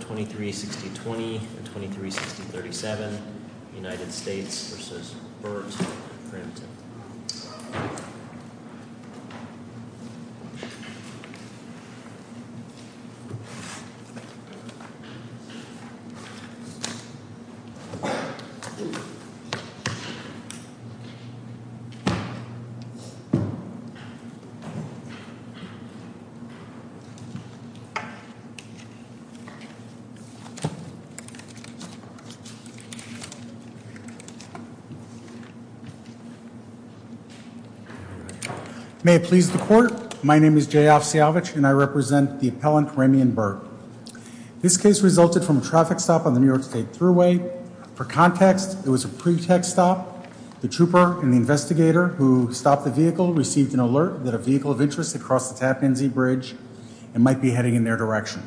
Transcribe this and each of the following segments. Creedmanoa. May it please the court, my name is Jay Ofsiyavich and I represent the appellant Ramian Berg. This case resulted from a traffic stop on the New York State Thruway. For context, it was a pretext stop. The trooper and the investigator who stopped the vehicle received an alert that a vehicle of interest had crossed the Tappan Zee Bridge and might be heading in their direction.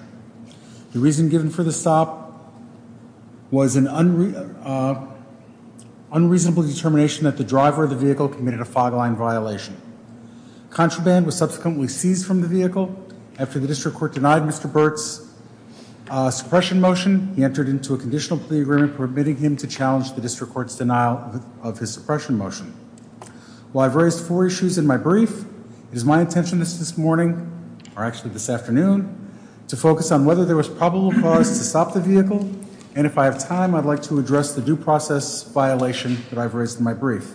The reason given for the stop was an unreasonable determination that the driver of the vehicle committed a fog line violation. Contraband was subsequently seized from the vehicle. After the district court denied Mr. Burt's suppression motion, he entered into a conditional plea agreement permitting him to challenge the district court's denial of his suppression motion. While I've raised four issues in my brief, it is my intention this morning, or actually this afternoon, to focus on whether there was probable cause to stop the vehicle and if I have time, I'd like to address the due process violation that I've raised in my brief.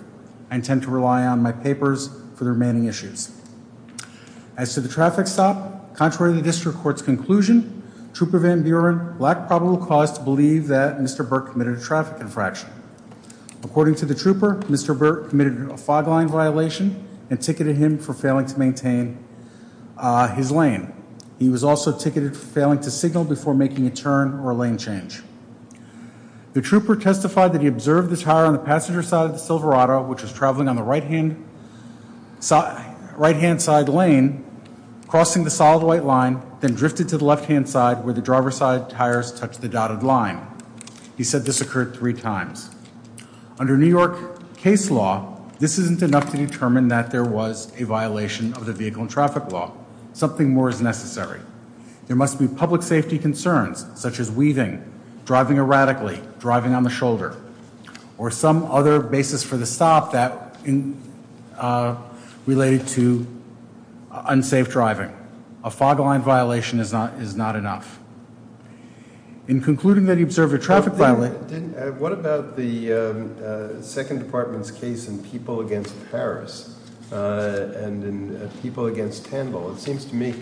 I intend to rely on my papers for the remaining issues. As to the traffic stop, contrary to the district court's conclusion, Trooper Van Buren lacked probable cause to believe that Mr. Burt committed a traffic infraction. According to the trooper, Mr. Burt committed a fog line violation and ticketed him for failing to maintain his lane. He was also ticketed for failing to signal before making a turn or a lane change. The trooper testified that he observed the tire on the passenger side of the Silverado, which was traveling on the right-hand side lane, crossing the solid white line, then drifted to the left-hand side where the driver's side tires touched the dotted line. He said this occurred three times. Under New York case law, this isn't enough to determine that there was a violation of the vehicle and traffic law. Something more is necessary. There must be public safety concerns, such as weaving, driving erratically, driving on the shoulder, or some other basis for the stop that related to unsafe driving. A fog line violation is not enough. In concluding that he observed a traffic violation- What about the Second Department's case in People Against Paris and in People Against Tandle? It seems to me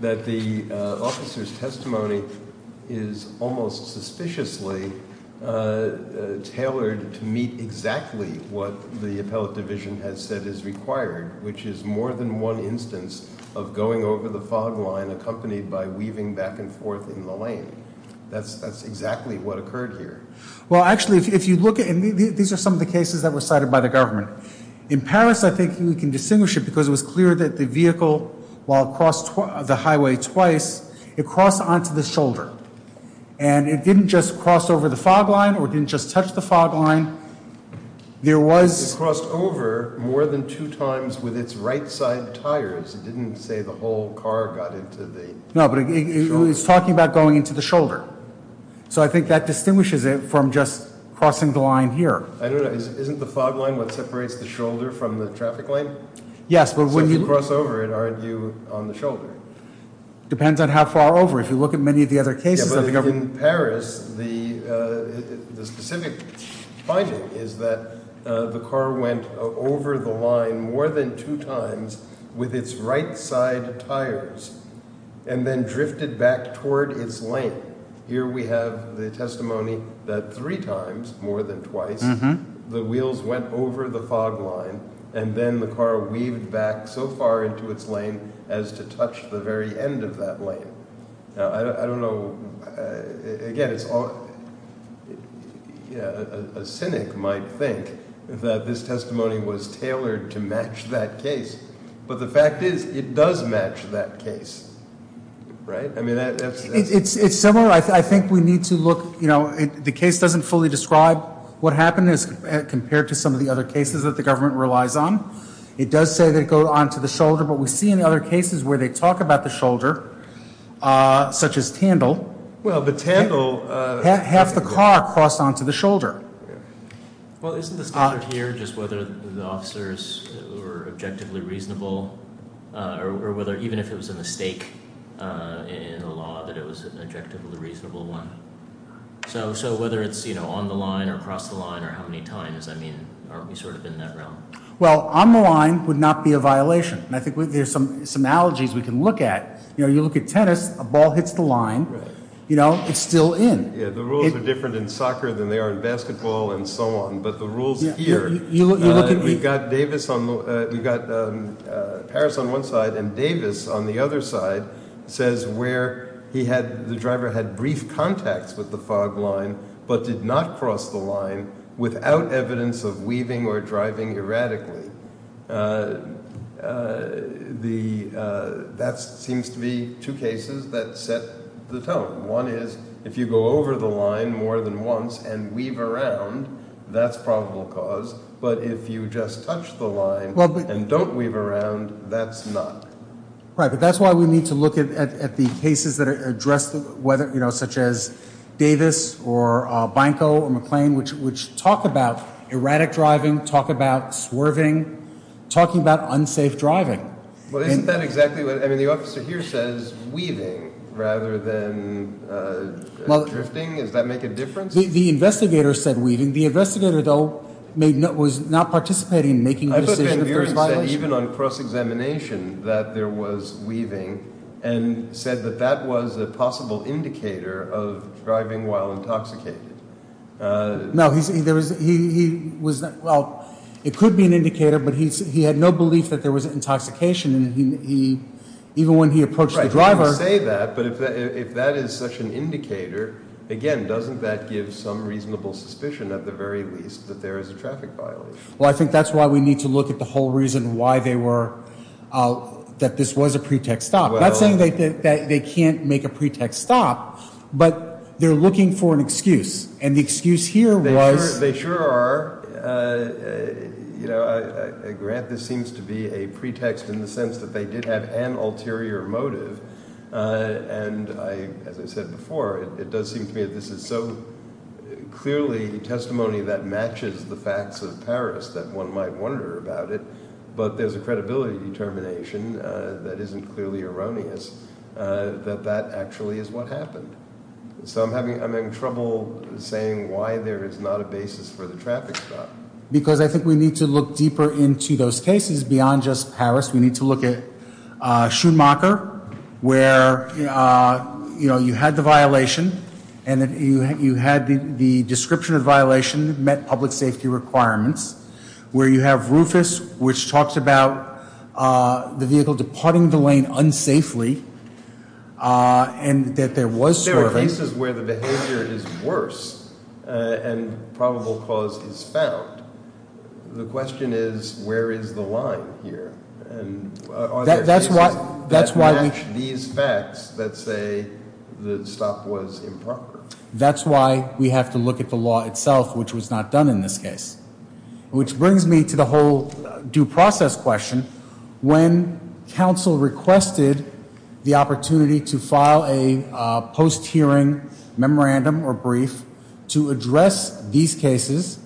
that the officer's testimony is almost suspiciously tailored to meet exactly what the appellate division has said is required, which is more than one instance of going over the fog line accompanied by weaving back and forth in the lane. That's exactly what occurred here. Well, actually, if you look at- and these are some of the cases that were cited by the government. In Paris, I think you can distinguish it because it was clear that the vehicle, while it crossed the highway twice, it crossed onto the shoulder. And it didn't just cross over the fog line or didn't just touch the fog line. It crossed over more than two times with its right side tires. It didn't say the whole car got into the- No, but it's talking about going into the shoulder. So I think that distinguishes it from just crossing the line here. Isn't the fog line what separates the shoulder from the traffic lane? Yes, but when you- So if you cross over it, aren't you on the shoulder? Depends on how far over. If you look at many of the other cases of government- Yeah, but in Paris, the specific finding is that the car went over the line more than two times with its right side tires and then drifted back toward its lane. Here we have the testimony that three times, more than twice, the wheels went over the fog line and then the car weaved back so far into its lane as to touch the very end of that lane. Now, I don't know, again, a cynic might think that this testimony was tailored to match that case, but the fact is it does match that case, right? I mean, that's- It's similar. I think we need to look, you know, the case doesn't fully describe what happened as compared to some of the other cases that the government relies on. It does say that it goes onto the shoulder, but we see in other cases where they talk about the shoulder, such as Tandle- Well, but Tandle- Half the car crossed onto the shoulder. Well, isn't the standard here just whether the officers were objectively reasonable or whether- even if it was a mistake in the law, that it was an objectively reasonable one? So whether it's, you know, on the line or across the line or how many times, I mean, aren't we sort of in that realm? Well, on the line would not be a violation, and I think there's some analogies we can look at. You know, you look at tennis, a ball hits the line, you know, it's still in. Yeah, the rules are different in soccer than they are in basketball and so on, but the rules here- You look at- We've got Davis on the- We've got Harris on one side and Davis on the other side says where he had- but did not cross the line without evidence of weaving or driving erratically. That seems to be two cases that set the tone. One is if you go over the line more than once and weave around, that's probable cause, but if you just touch the line and don't weave around, that's not. Right, but that's why we need to look at the cases that address whether, you know, such as Davis or Binco or McLean, which talk about erratic driving, talk about swerving, talking about unsafe driving. Well, isn't that exactly what- I mean, the officer here says weaving rather than drifting. Does that make a difference? The investigator said weaving. The investigator, though, was not participating in making a decision- The investigator said even on cross-examination that there was weaving and said that that was a possible indicator of driving while intoxicated. No, he was- well, it could be an indicator, but he had no belief that there was intoxication and he- even when he approached the driver- Right, he didn't say that, but if that is such an indicator, again, doesn't that give some reasonable suspicion at the very least that there is a traffic violation? Well, I think that's why we need to look at the whole reason why they were- that this was a pretext stop. Not saying that they can't make a pretext stop, but they're looking for an excuse, and the excuse here was- And I- as I said before, it does seem to me that this is so clearly testimony that matches the facts of Paris that one might wonder about it, but there's a credibility determination that isn't clearly erroneous that that actually is what happened. So I'm having trouble saying why there is not a basis for the traffic stop. Because I think we need to look deeper into those cases beyond just Paris. We need to look at Schumacher, where, you know, you had the violation, and you had the description of the violation that met public safety requirements, where you have Rufus, which talks about the vehicle departing the lane unsafely, and that there was- In cases where the behavior is worse and probable cause is found, the question is, where is the line here? And are there cases that match these facts that say the stop was improper? That's why we have to look at the law itself, which was not done in this case. Which brings me to the whole due process question. When counsel requested the opportunity to file a post-hearing memorandum or brief to address these cases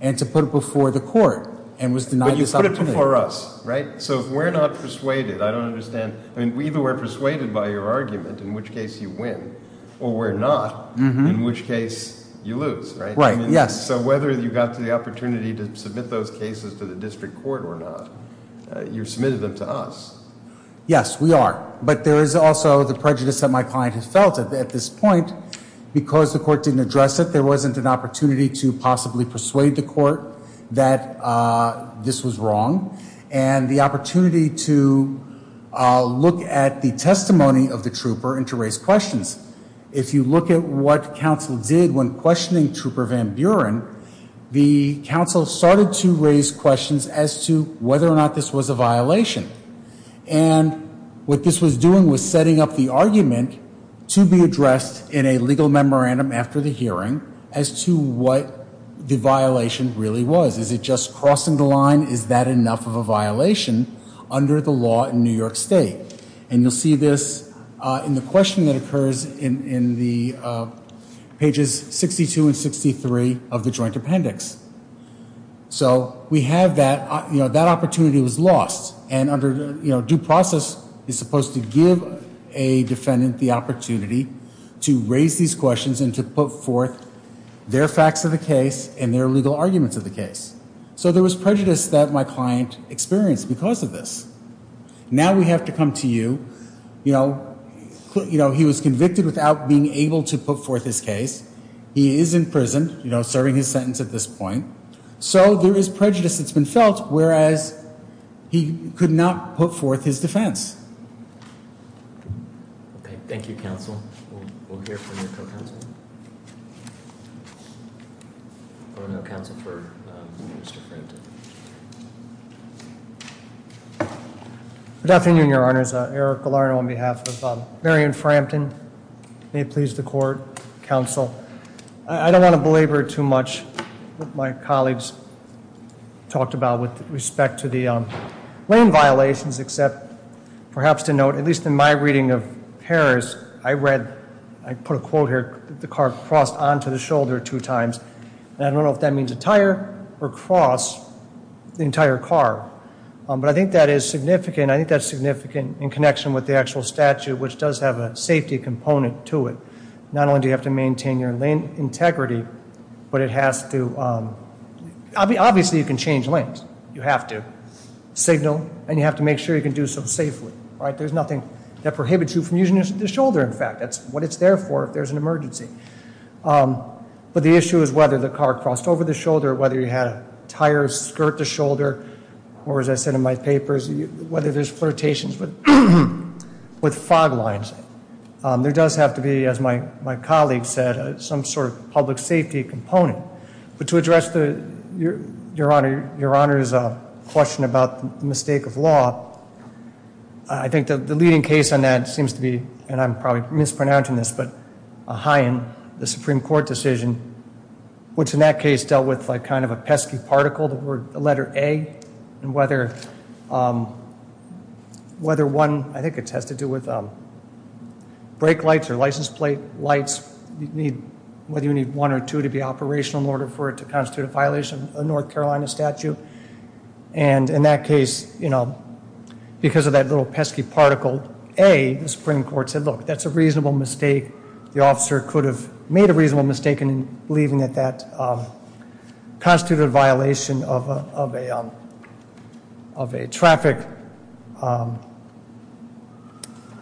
and to put it before the court and was denied this opportunity- But you put it before us, right? So we're not persuaded. I don't understand. I mean, we either were persuaded by your argument, in which case you win, or we're not, in which case you lose, right? Right, yes. So whether you got the opportunity to submit those cases to the district court or not, you submitted them to us. Yes, we are. But there is also the prejudice that my client has felt at this point. Because the court didn't address it, there wasn't an opportunity to possibly persuade the court that this was wrong, and the opportunity to look at the testimony of the trooper and to raise questions. If you look at what counsel did when questioning Trooper Van Buren, the counsel started to raise questions as to whether or not this was a violation. And what this was doing was setting up the argument to be addressed in a legal memorandum after the hearing as to what the violation really was. Is it just crossing the line? Is that enough of a violation under the law in New York State? And you'll see this in the questioning that occurs in the pages 62 and 63 of the joint appendix. So we have that, you know, that opportunity was lost. And under, you know, due process is supposed to give a defendant the opportunity to raise these questions and to put forth their facts of the case and their legal arguments of the case. So there was prejudice that my client experienced because of this. Now we have to come to you, you know, he was convicted without being able to put forth his case. He is in prison, you know, serving his sentence at this point. So there is prejudice that's been felt, whereas he could not put forth his defense. Thank you, Counsel. We'll hear from your co-counsel. Or no counsel for Mr. Frampton. Good afternoon, Your Honors. Eric Gallardo on behalf of Marion Frampton. May it please the court. Counsel, I don't want to belabor too much. What my colleagues talked about with respect to the lane violations, except perhaps to note, at least in my reading of Harris, I read, I put a quote here, the car crossed onto the shoulder two times. And I don't know if that means a tire or cross the entire car. But I think that is significant. I think that's significant in connection with the actual statute, which does have a safety component to it. Not only do you have to maintain your lane integrity, but it has to, obviously you can change lanes. You have to signal and you have to make sure you can do so safely. There's nothing that prohibits you from using the shoulder, in fact. That's what it's there for if there's an emergency. But the issue is whether the car crossed over the shoulder, whether you had a tire skirt the shoulder, or as I said in my papers, whether there's flirtations with fog lines. There does have to be, as my colleague said, some sort of public safety component. But to address Your Honor's question about the mistake of law, I think the leading case on that seems to be, and I'm probably mispronouncing this, but a high in the Supreme Court decision, which in that case dealt with kind of a pesky particle, the letter A, and whether one, I think it has to do with brake lights or license plate lights, whether you need one or two to be operational in order for it to constitute a violation of a North Carolina statute. And in that case, because of that little pesky particle, A, the Supreme Court said, look, that's a reasonable mistake. The officer could have made a reasonable mistake in believing that that constituted a violation of a traffic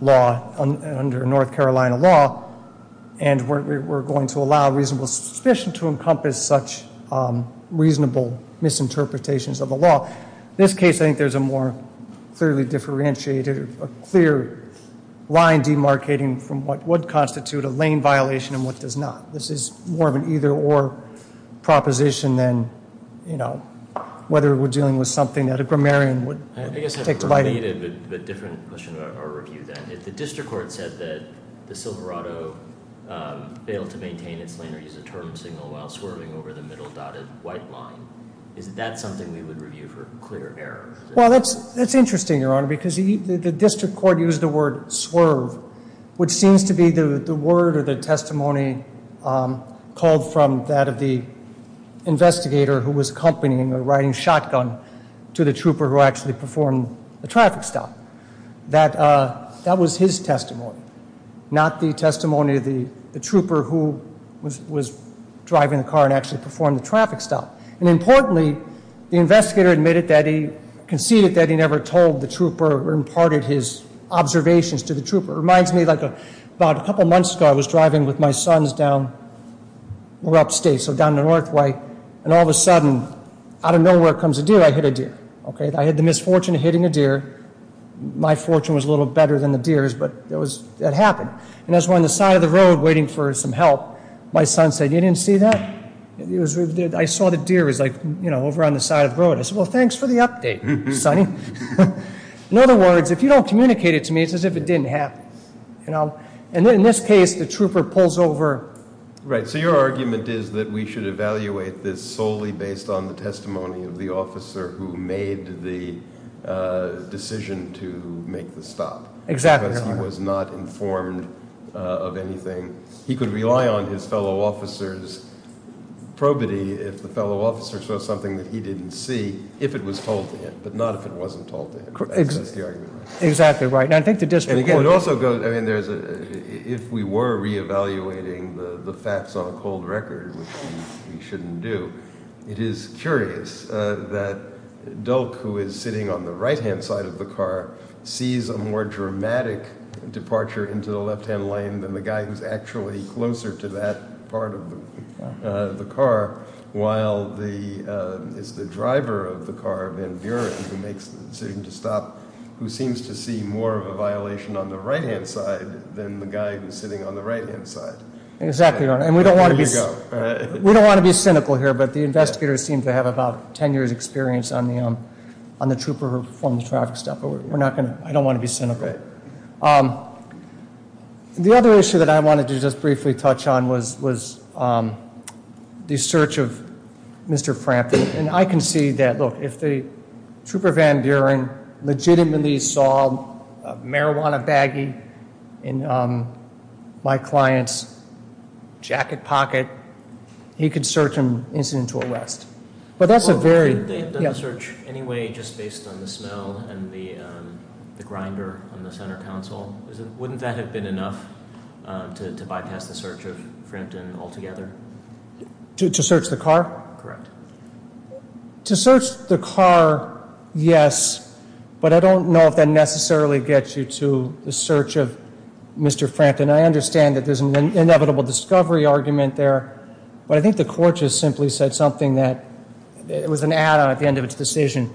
law under North Carolina law. And we're going to allow reasonable suspicion to encompass such reasonable misinterpretations of the law. In this case, I think there's a more clearly differentiated, a clear line demarcating from what would constitute a lane violation and what does not. This is more of an either or proposition than, you know, whether we're dealing with something that a grammarian would take to bite it. I have a different question about our review then. If the district court said that the Silverado failed to maintain its lane or use a turn signal while swerving over the middle dotted white line, is that something we would review for clear error? Well, that's interesting, Your Honor, because the district court used the word swerve, which seems to be the word or the testimony called from that of the investigator who was accompanying or riding shotgun to the trooper who actually performed the traffic stop. That was his testimony, not the testimony of the trooper who was driving the car and actually performed the traffic stop. And importantly, the investigator admitted that he conceded that he never told the trooper or imparted his observations to the trooper. It reminds me, like, about a couple months ago, I was driving with my sons down, we were upstate, so down the north way, and all of a sudden, out of nowhere comes a deer. I hit a deer, okay? I had the misfortune of hitting a deer. My fortune was a little better than the deer's, but that happened. And I was on the side of the road waiting for some help. My son said, you didn't see that? I saw the deer was, like, you know, over on the side of the road. I said, well, thanks for the update, sonny. In other words, if you don't communicate it to me, it's as if it didn't happen, you know? And in this case, the trooper pulls over. Right. So your argument is that we should evaluate this solely based on the testimony of the officer who made the decision to make the stop. Exactly right. Because he was not informed of anything. He could rely on his fellow officer's probity if the fellow officer saw something that he didn't see, if it was told to him, but not if it wasn't told to him. Exactly right. And again, if we were reevaluating the facts on a cold record, which we shouldn't do, it is curious that Dulk, who is sitting on the right-hand side of the car, sees a more dramatic departure into the left-hand lane than the guy who's actually closer to that part of the car, while it's the driver of the car, Van Buren, who makes the decision to stop, who seems to see more of a violation on the right-hand side than the guy who's sitting on the right-hand side. Exactly right. And we don't want to be cynical here, but the investigators seem to have about 10 years' experience on the trooper who performed the traffic stop. But I don't want to be cynical. The other issue that I wanted to just briefly touch on was the search of Mr. Frampton. And I can see that, look, if the trooper Van Buren legitimately saw a marijuana baggie in my client's jacket pocket, he could search him incidental arrest. They had done the search anyway just based on the smell and the grinder on the center console. Wouldn't that have been enough to bypass the search of Frampton altogether? To search the car? Correct. To search the car, yes, but I don't know if that necessarily gets you to the search of Mr. Frampton. I understand that there's an inevitable discovery argument there, but I think the court just simply said something that was an add-on at the end of its decision.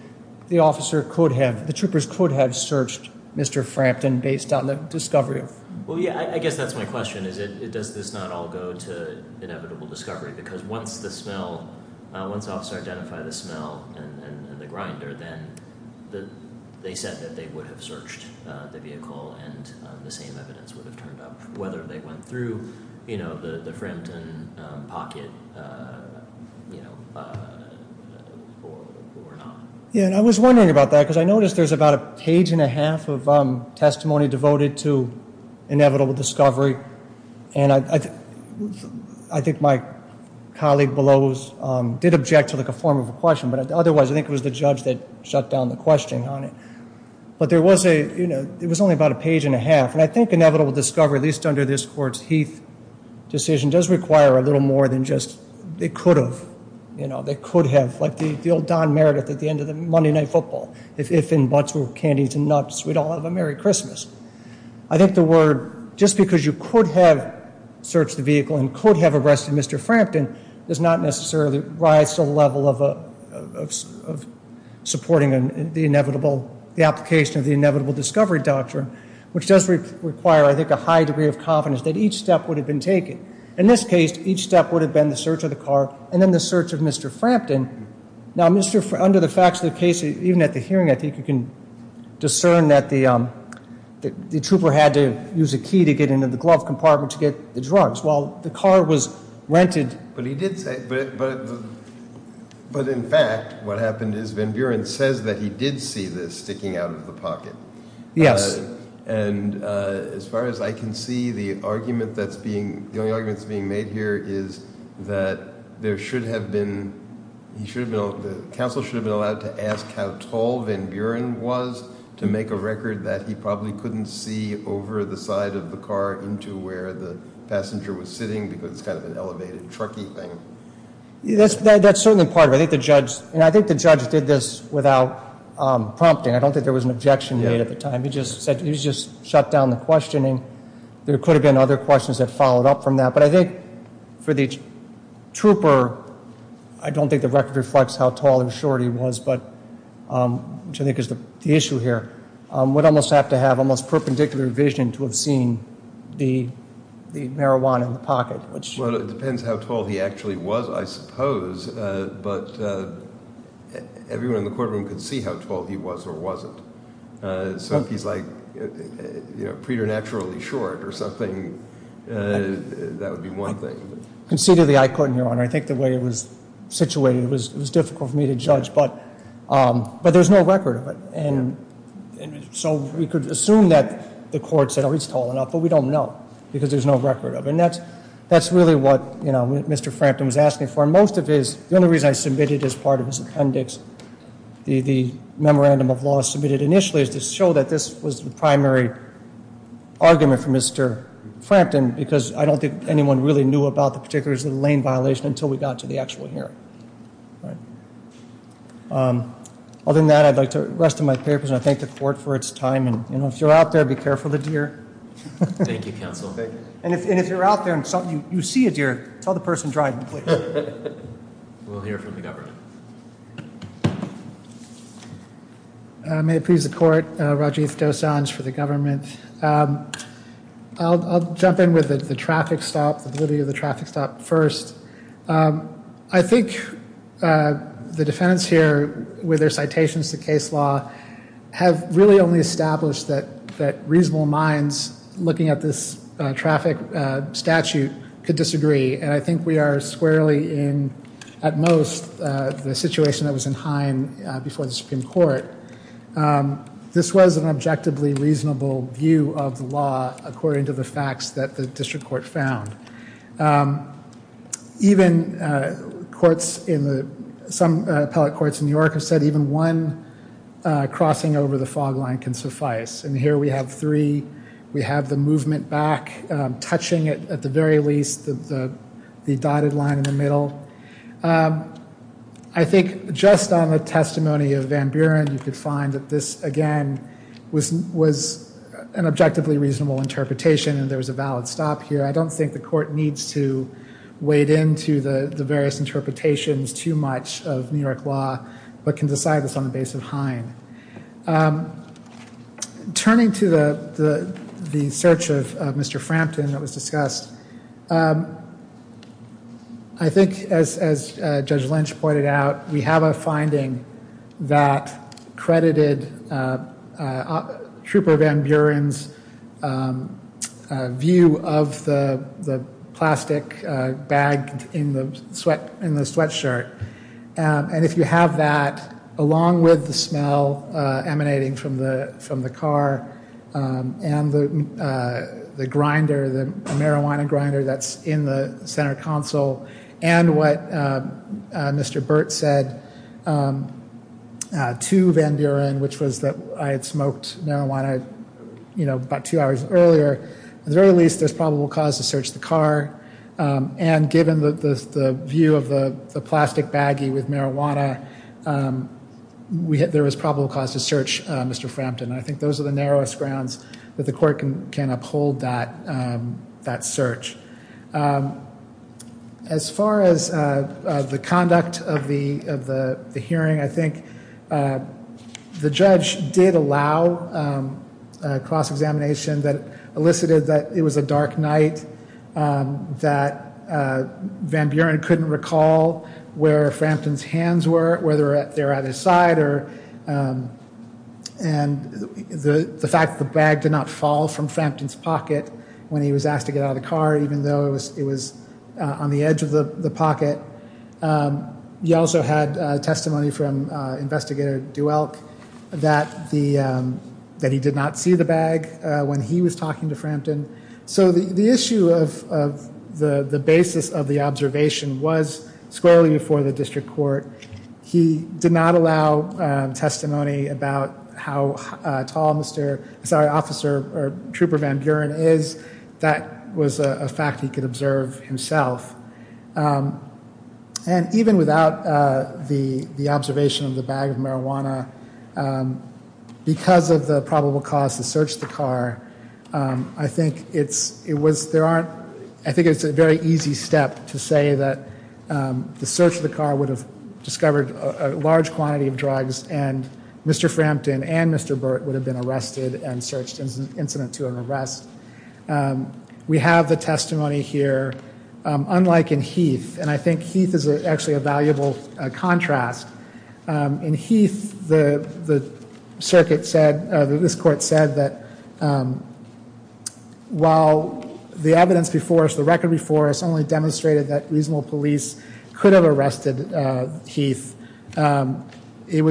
The officer could have, the troopers could have searched Mr. Frampton based on the discovery. Well, yeah, I guess that's my question, is does this not all go to inevitable discovery? Because once the smell, once the officer identified the smell and the grinder, then they said that they would have searched the vehicle and the same evidence would have turned up. Whether they went through the Frampton pocket or not. Yeah, and I was wondering about that because I noticed there's about a page and a half of testimony devoted to inevitable discovery, and I think my colleague below did object to a form of a question, but otherwise I think it was the judge that shut down the question on it. But there was a, you know, it was only about a page and a half, and I think inevitable discovery, at least under this court's Heath decision, does require a little more than just they could have. You know, they could have, like the old Don Meredith at the end of the Monday Night Football. If in butts were candies and nuts, we'd all have a merry Christmas. I think the word, just because you could have searched the vehicle and could have arrested Mr. Frampton, does not necessarily rise to the level of supporting the application of the inevitable discovery doctrine, which does require, I think, a high degree of confidence that each step would have been taken. In this case, each step would have been the search of the car and then the search of Mr. Frampton. Now, under the facts of the case, even at the hearing, I think you can discern that the trooper had to use a key to get into the glove compartment to get the drugs. While the car was rented. But he did say, but in fact, what happened is Van Buren says that he did see this sticking out of the pocket. Yes. And as far as I can see, the argument that's being, the only argument that's being made here is that there should have been, he should have been, the counsel should have been allowed to ask how tall Van Buren was to make a record that he probably couldn't see over the side of the car into where the passenger was sitting, because it's kind of an elevated trucky thing. That's certainly part of it. I think the judge, and I think the judge did this without prompting. I don't think there was an objection made at the time. He just said, he just shut down the questioning. There could have been other questions that followed up from that. But I think for the trooper, I don't think the record reflects how tall and short he was, but which I think is the issue here, would almost have to have almost perpendicular vision to have seen the marijuana in the pocket. Well, it depends how tall he actually was, I suppose. But everyone in the courtroom could see how tall he was or wasn't. So if he's like preternaturally short or something, that would be one thing. Concededly, I couldn't, Your Honor. I think the way it was situated, it was difficult for me to judge. But there's no record of it. And so we could assume that the court said, oh, he's tall enough. But we don't know, because there's no record of it. And that's really what Mr. Frampton was asking for. Most of his, the only reason I submitted as part of his appendix, the memorandum of law submitted initially is to show that this was the primary argument for Mr. Frampton, because I don't think anyone really knew about the particulars of the lane violation until we got to the actual hearing. Other than that, I'd like the rest of my papers, and I thank the court for its time. And if you're out there, be careful of the deer. Thank you, counsel. And if you're out there and you see a deer, tell the person driving, please. We'll hear from the government. May it please the court, Rajiv Dosanjh for the government. I'll jump in with the traffic stop, the validity of the traffic stop first. I think the defendants here, with their citations to case law, have really only established that reasonable minds looking at this traffic statute could disagree. And I think we are squarely in, at most, the situation that was in Hine before the Supreme Court. This was an objectively reasonable view of the law according to the facts that the district court found. Even courts in the, some appellate courts in New York have said even one crossing over the fog line can suffice. And here we have three. We have the movement back touching it, at the very least, the dotted line in the middle. I think just on the testimony of Van Buren, you could find that this, again, was an objectively reasonable interpretation and there was a valid stop here. I don't think the court needs to wade into the various interpretations too much of New York law, but can decide this on the basis of Hine. Turning to the search of Mr. Frampton that was discussed, I think, as Judge Lynch pointed out, we have a finding that credited Trooper Van Buren's view of the plastic bag in the sweatshirt. And if you have that, along with the smell emanating from the car and the grinder, the marijuana grinder that's in the center console, and what Mr. Burt said to Van Buren, which was that I had smoked marijuana about two hours earlier, at the very least, there's probable cause to search the car. And given the view of the plastic baggie with marijuana, there was probable cause to search Mr. Frampton. I think those are the narrowest grounds that the court can uphold that search. As far as the conduct of the hearing, I think the judge did allow a cross-examination that elicited that it was a dark night, that Van Buren couldn't recall where Frampton's hands were, whether they were at his side, and the fact that the bag did not fall from Frampton's pocket when he was asked to get out of the car, even though it was on the edge of the pocket. He also had testimony from Investigator Duelk that he did not see the bag when he was talking to Frampton. So the issue of the basis of the observation was squarely before the district court. He did not allow testimony about how tall Officer or Trooper Van Buren is. That was a fact he could observe himself. And even without the observation of the bag of marijuana, because of the probable cause to search the car, I think it's a very easy step to say that the search of the car would have discovered a large quantity of drugs and Mr. Frampton and Mr. Burt would have been arrested and searched as an incident to an arrest. We have the testimony here. Unlike in Heath, and I think Heath is actually a valuable contrast, in Heath, the circuit said, this court said that while the evidence before us, the record before us only demonstrated that reasonable police could have arrested Heath, there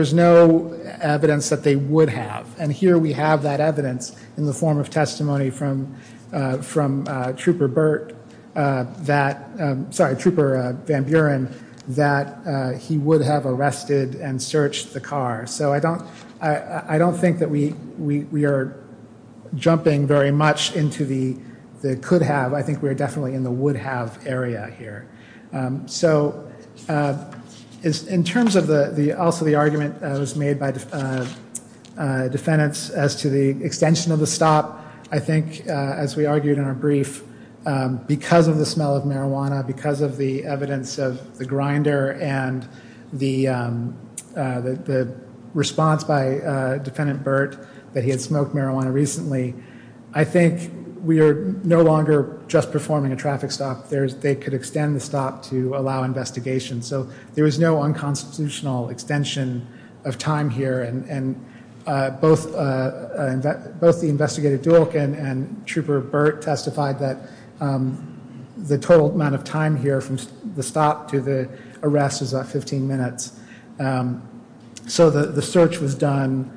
was no evidence that they would have. And here we have that evidence in the form of testimony from Trooper Burt that, sorry, Trooper Van Buren, that he would have arrested and searched the car. So I don't think that we are jumping very much into the could have. I think we're definitely in the would have area here. So in terms of also the argument that was made by defendants as to the extension of the stop, I think, as we argued in our brief, because of the smell of marijuana, because of the evidence of the grinder and the response by defendant Burt that he had smoked marijuana recently, I think we are no longer just performing a traffic stop. They could extend the stop to allow investigation. So there was no unconstitutional extension of time here. And both the investigative dual and Trooper Burt testified that the total amount of time here from the stop to the arrest is about 15 minutes. So the search was done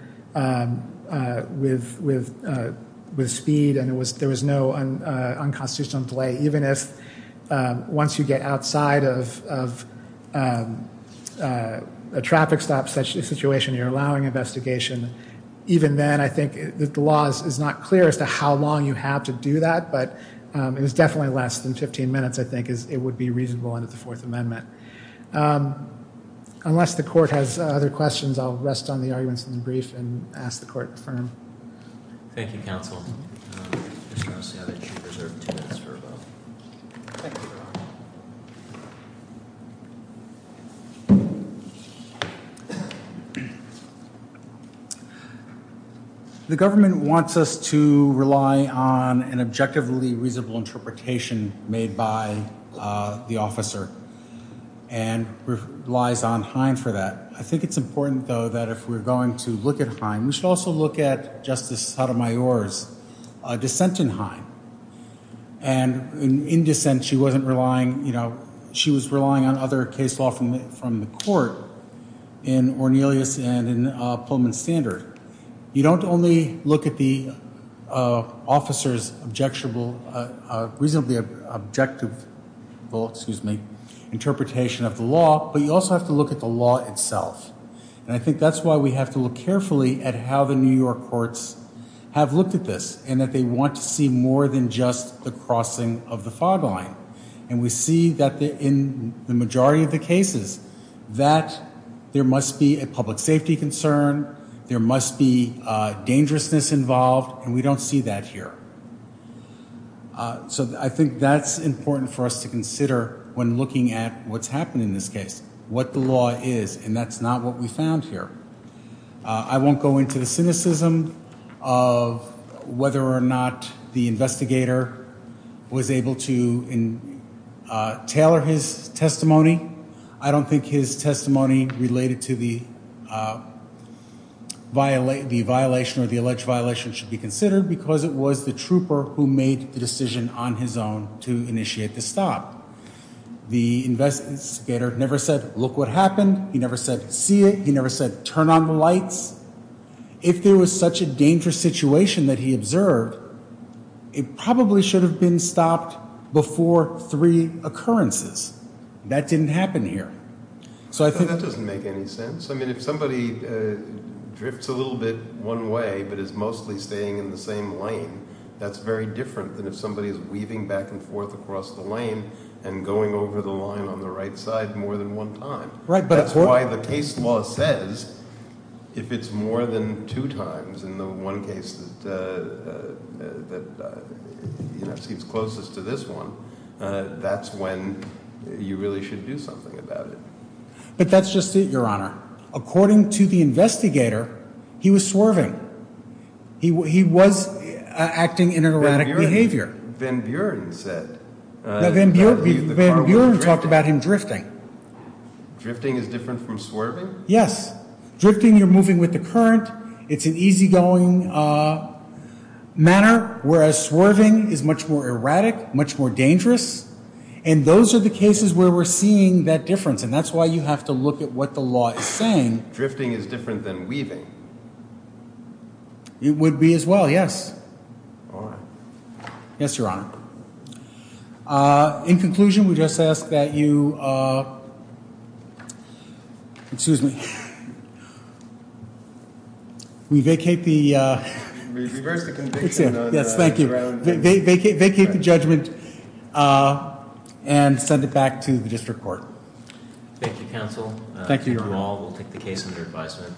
with speed and there was no unconstitutional delay, even as once you get outside of a traffic stop situation, you're allowing investigation. Even then, I think the law is not clear as to how long you have to do that, but it was definitely less than 15 minutes, I think, as it would be reasonable under the Fourth Amendment. Unless the court has other questions, I'll rest on the arguments in the brief and ask the court to confirm. Thank you, counsel. The government wants us to rely on an objectively reasonable interpretation made by the officer and relies on Hines for that. I think it's important, though, that if we're going to look at Hines, we should also look at Justice Sotomayor's dissent in Hines. And in dissent, she was relying on other case law from the court in Ornelas and in Pullman Standard. You don't only look at the officer's reasonably objective interpretation of the law, but you also have to look at the law itself. And I think that's why we have to look carefully at how the New York courts have looked at this and that they want to see more than just the crossing of the fog line. And we see that in the majority of the cases that there must be a public safety concern, there must be dangerousness involved, and we don't see that here. So I think that's important for us to consider when looking at what's happened in this case, what the law is, and that's not what we found here. I won't go into the cynicism of whether or not the investigator was able to tailor his testimony. I don't think his testimony related to the violation or the alleged violation should be considered because it was the trooper who made the decision on his own to initiate the stop. The investigator never said, look what happened. He never said, see it. He never said, turn on the lights. If there was such a dangerous situation that he observed, it probably should have been stopped before three occurrences. That didn't happen here. So I think that doesn't make any sense. I mean, if somebody drifts a little bit one way but is mostly staying in the same lane, that's very different than if somebody is weaving back and forth across the lane and going over the line on the right side more than one time. That's why the case law says if it's more than two times in the one case that seems closest to this one, that's when you really should do something about it. But that's just it, Your Honor. According to the investigator, he was swerving. He was acting in an erratic behavior. Van Buren said. Van Buren talked about him drifting. Drifting is different from swerving? Yes. Drifting, you're moving with the current. It's an easygoing manner, whereas swerving is much more erratic, much more dangerous. And those are the cases where we're seeing that difference, and that's why you have to look at what the law is saying. Drifting is different than weaving? It would be as well, yes. All right. Yes, Your Honor. In conclusion, we just ask that you, excuse me. We vacate the. Reverse the conviction. Yes, thank you. Vacate the judgment and send it back to the district court. Thank you, counsel. Thank you, Your Honor. Thank you all. We'll take the case under advisement.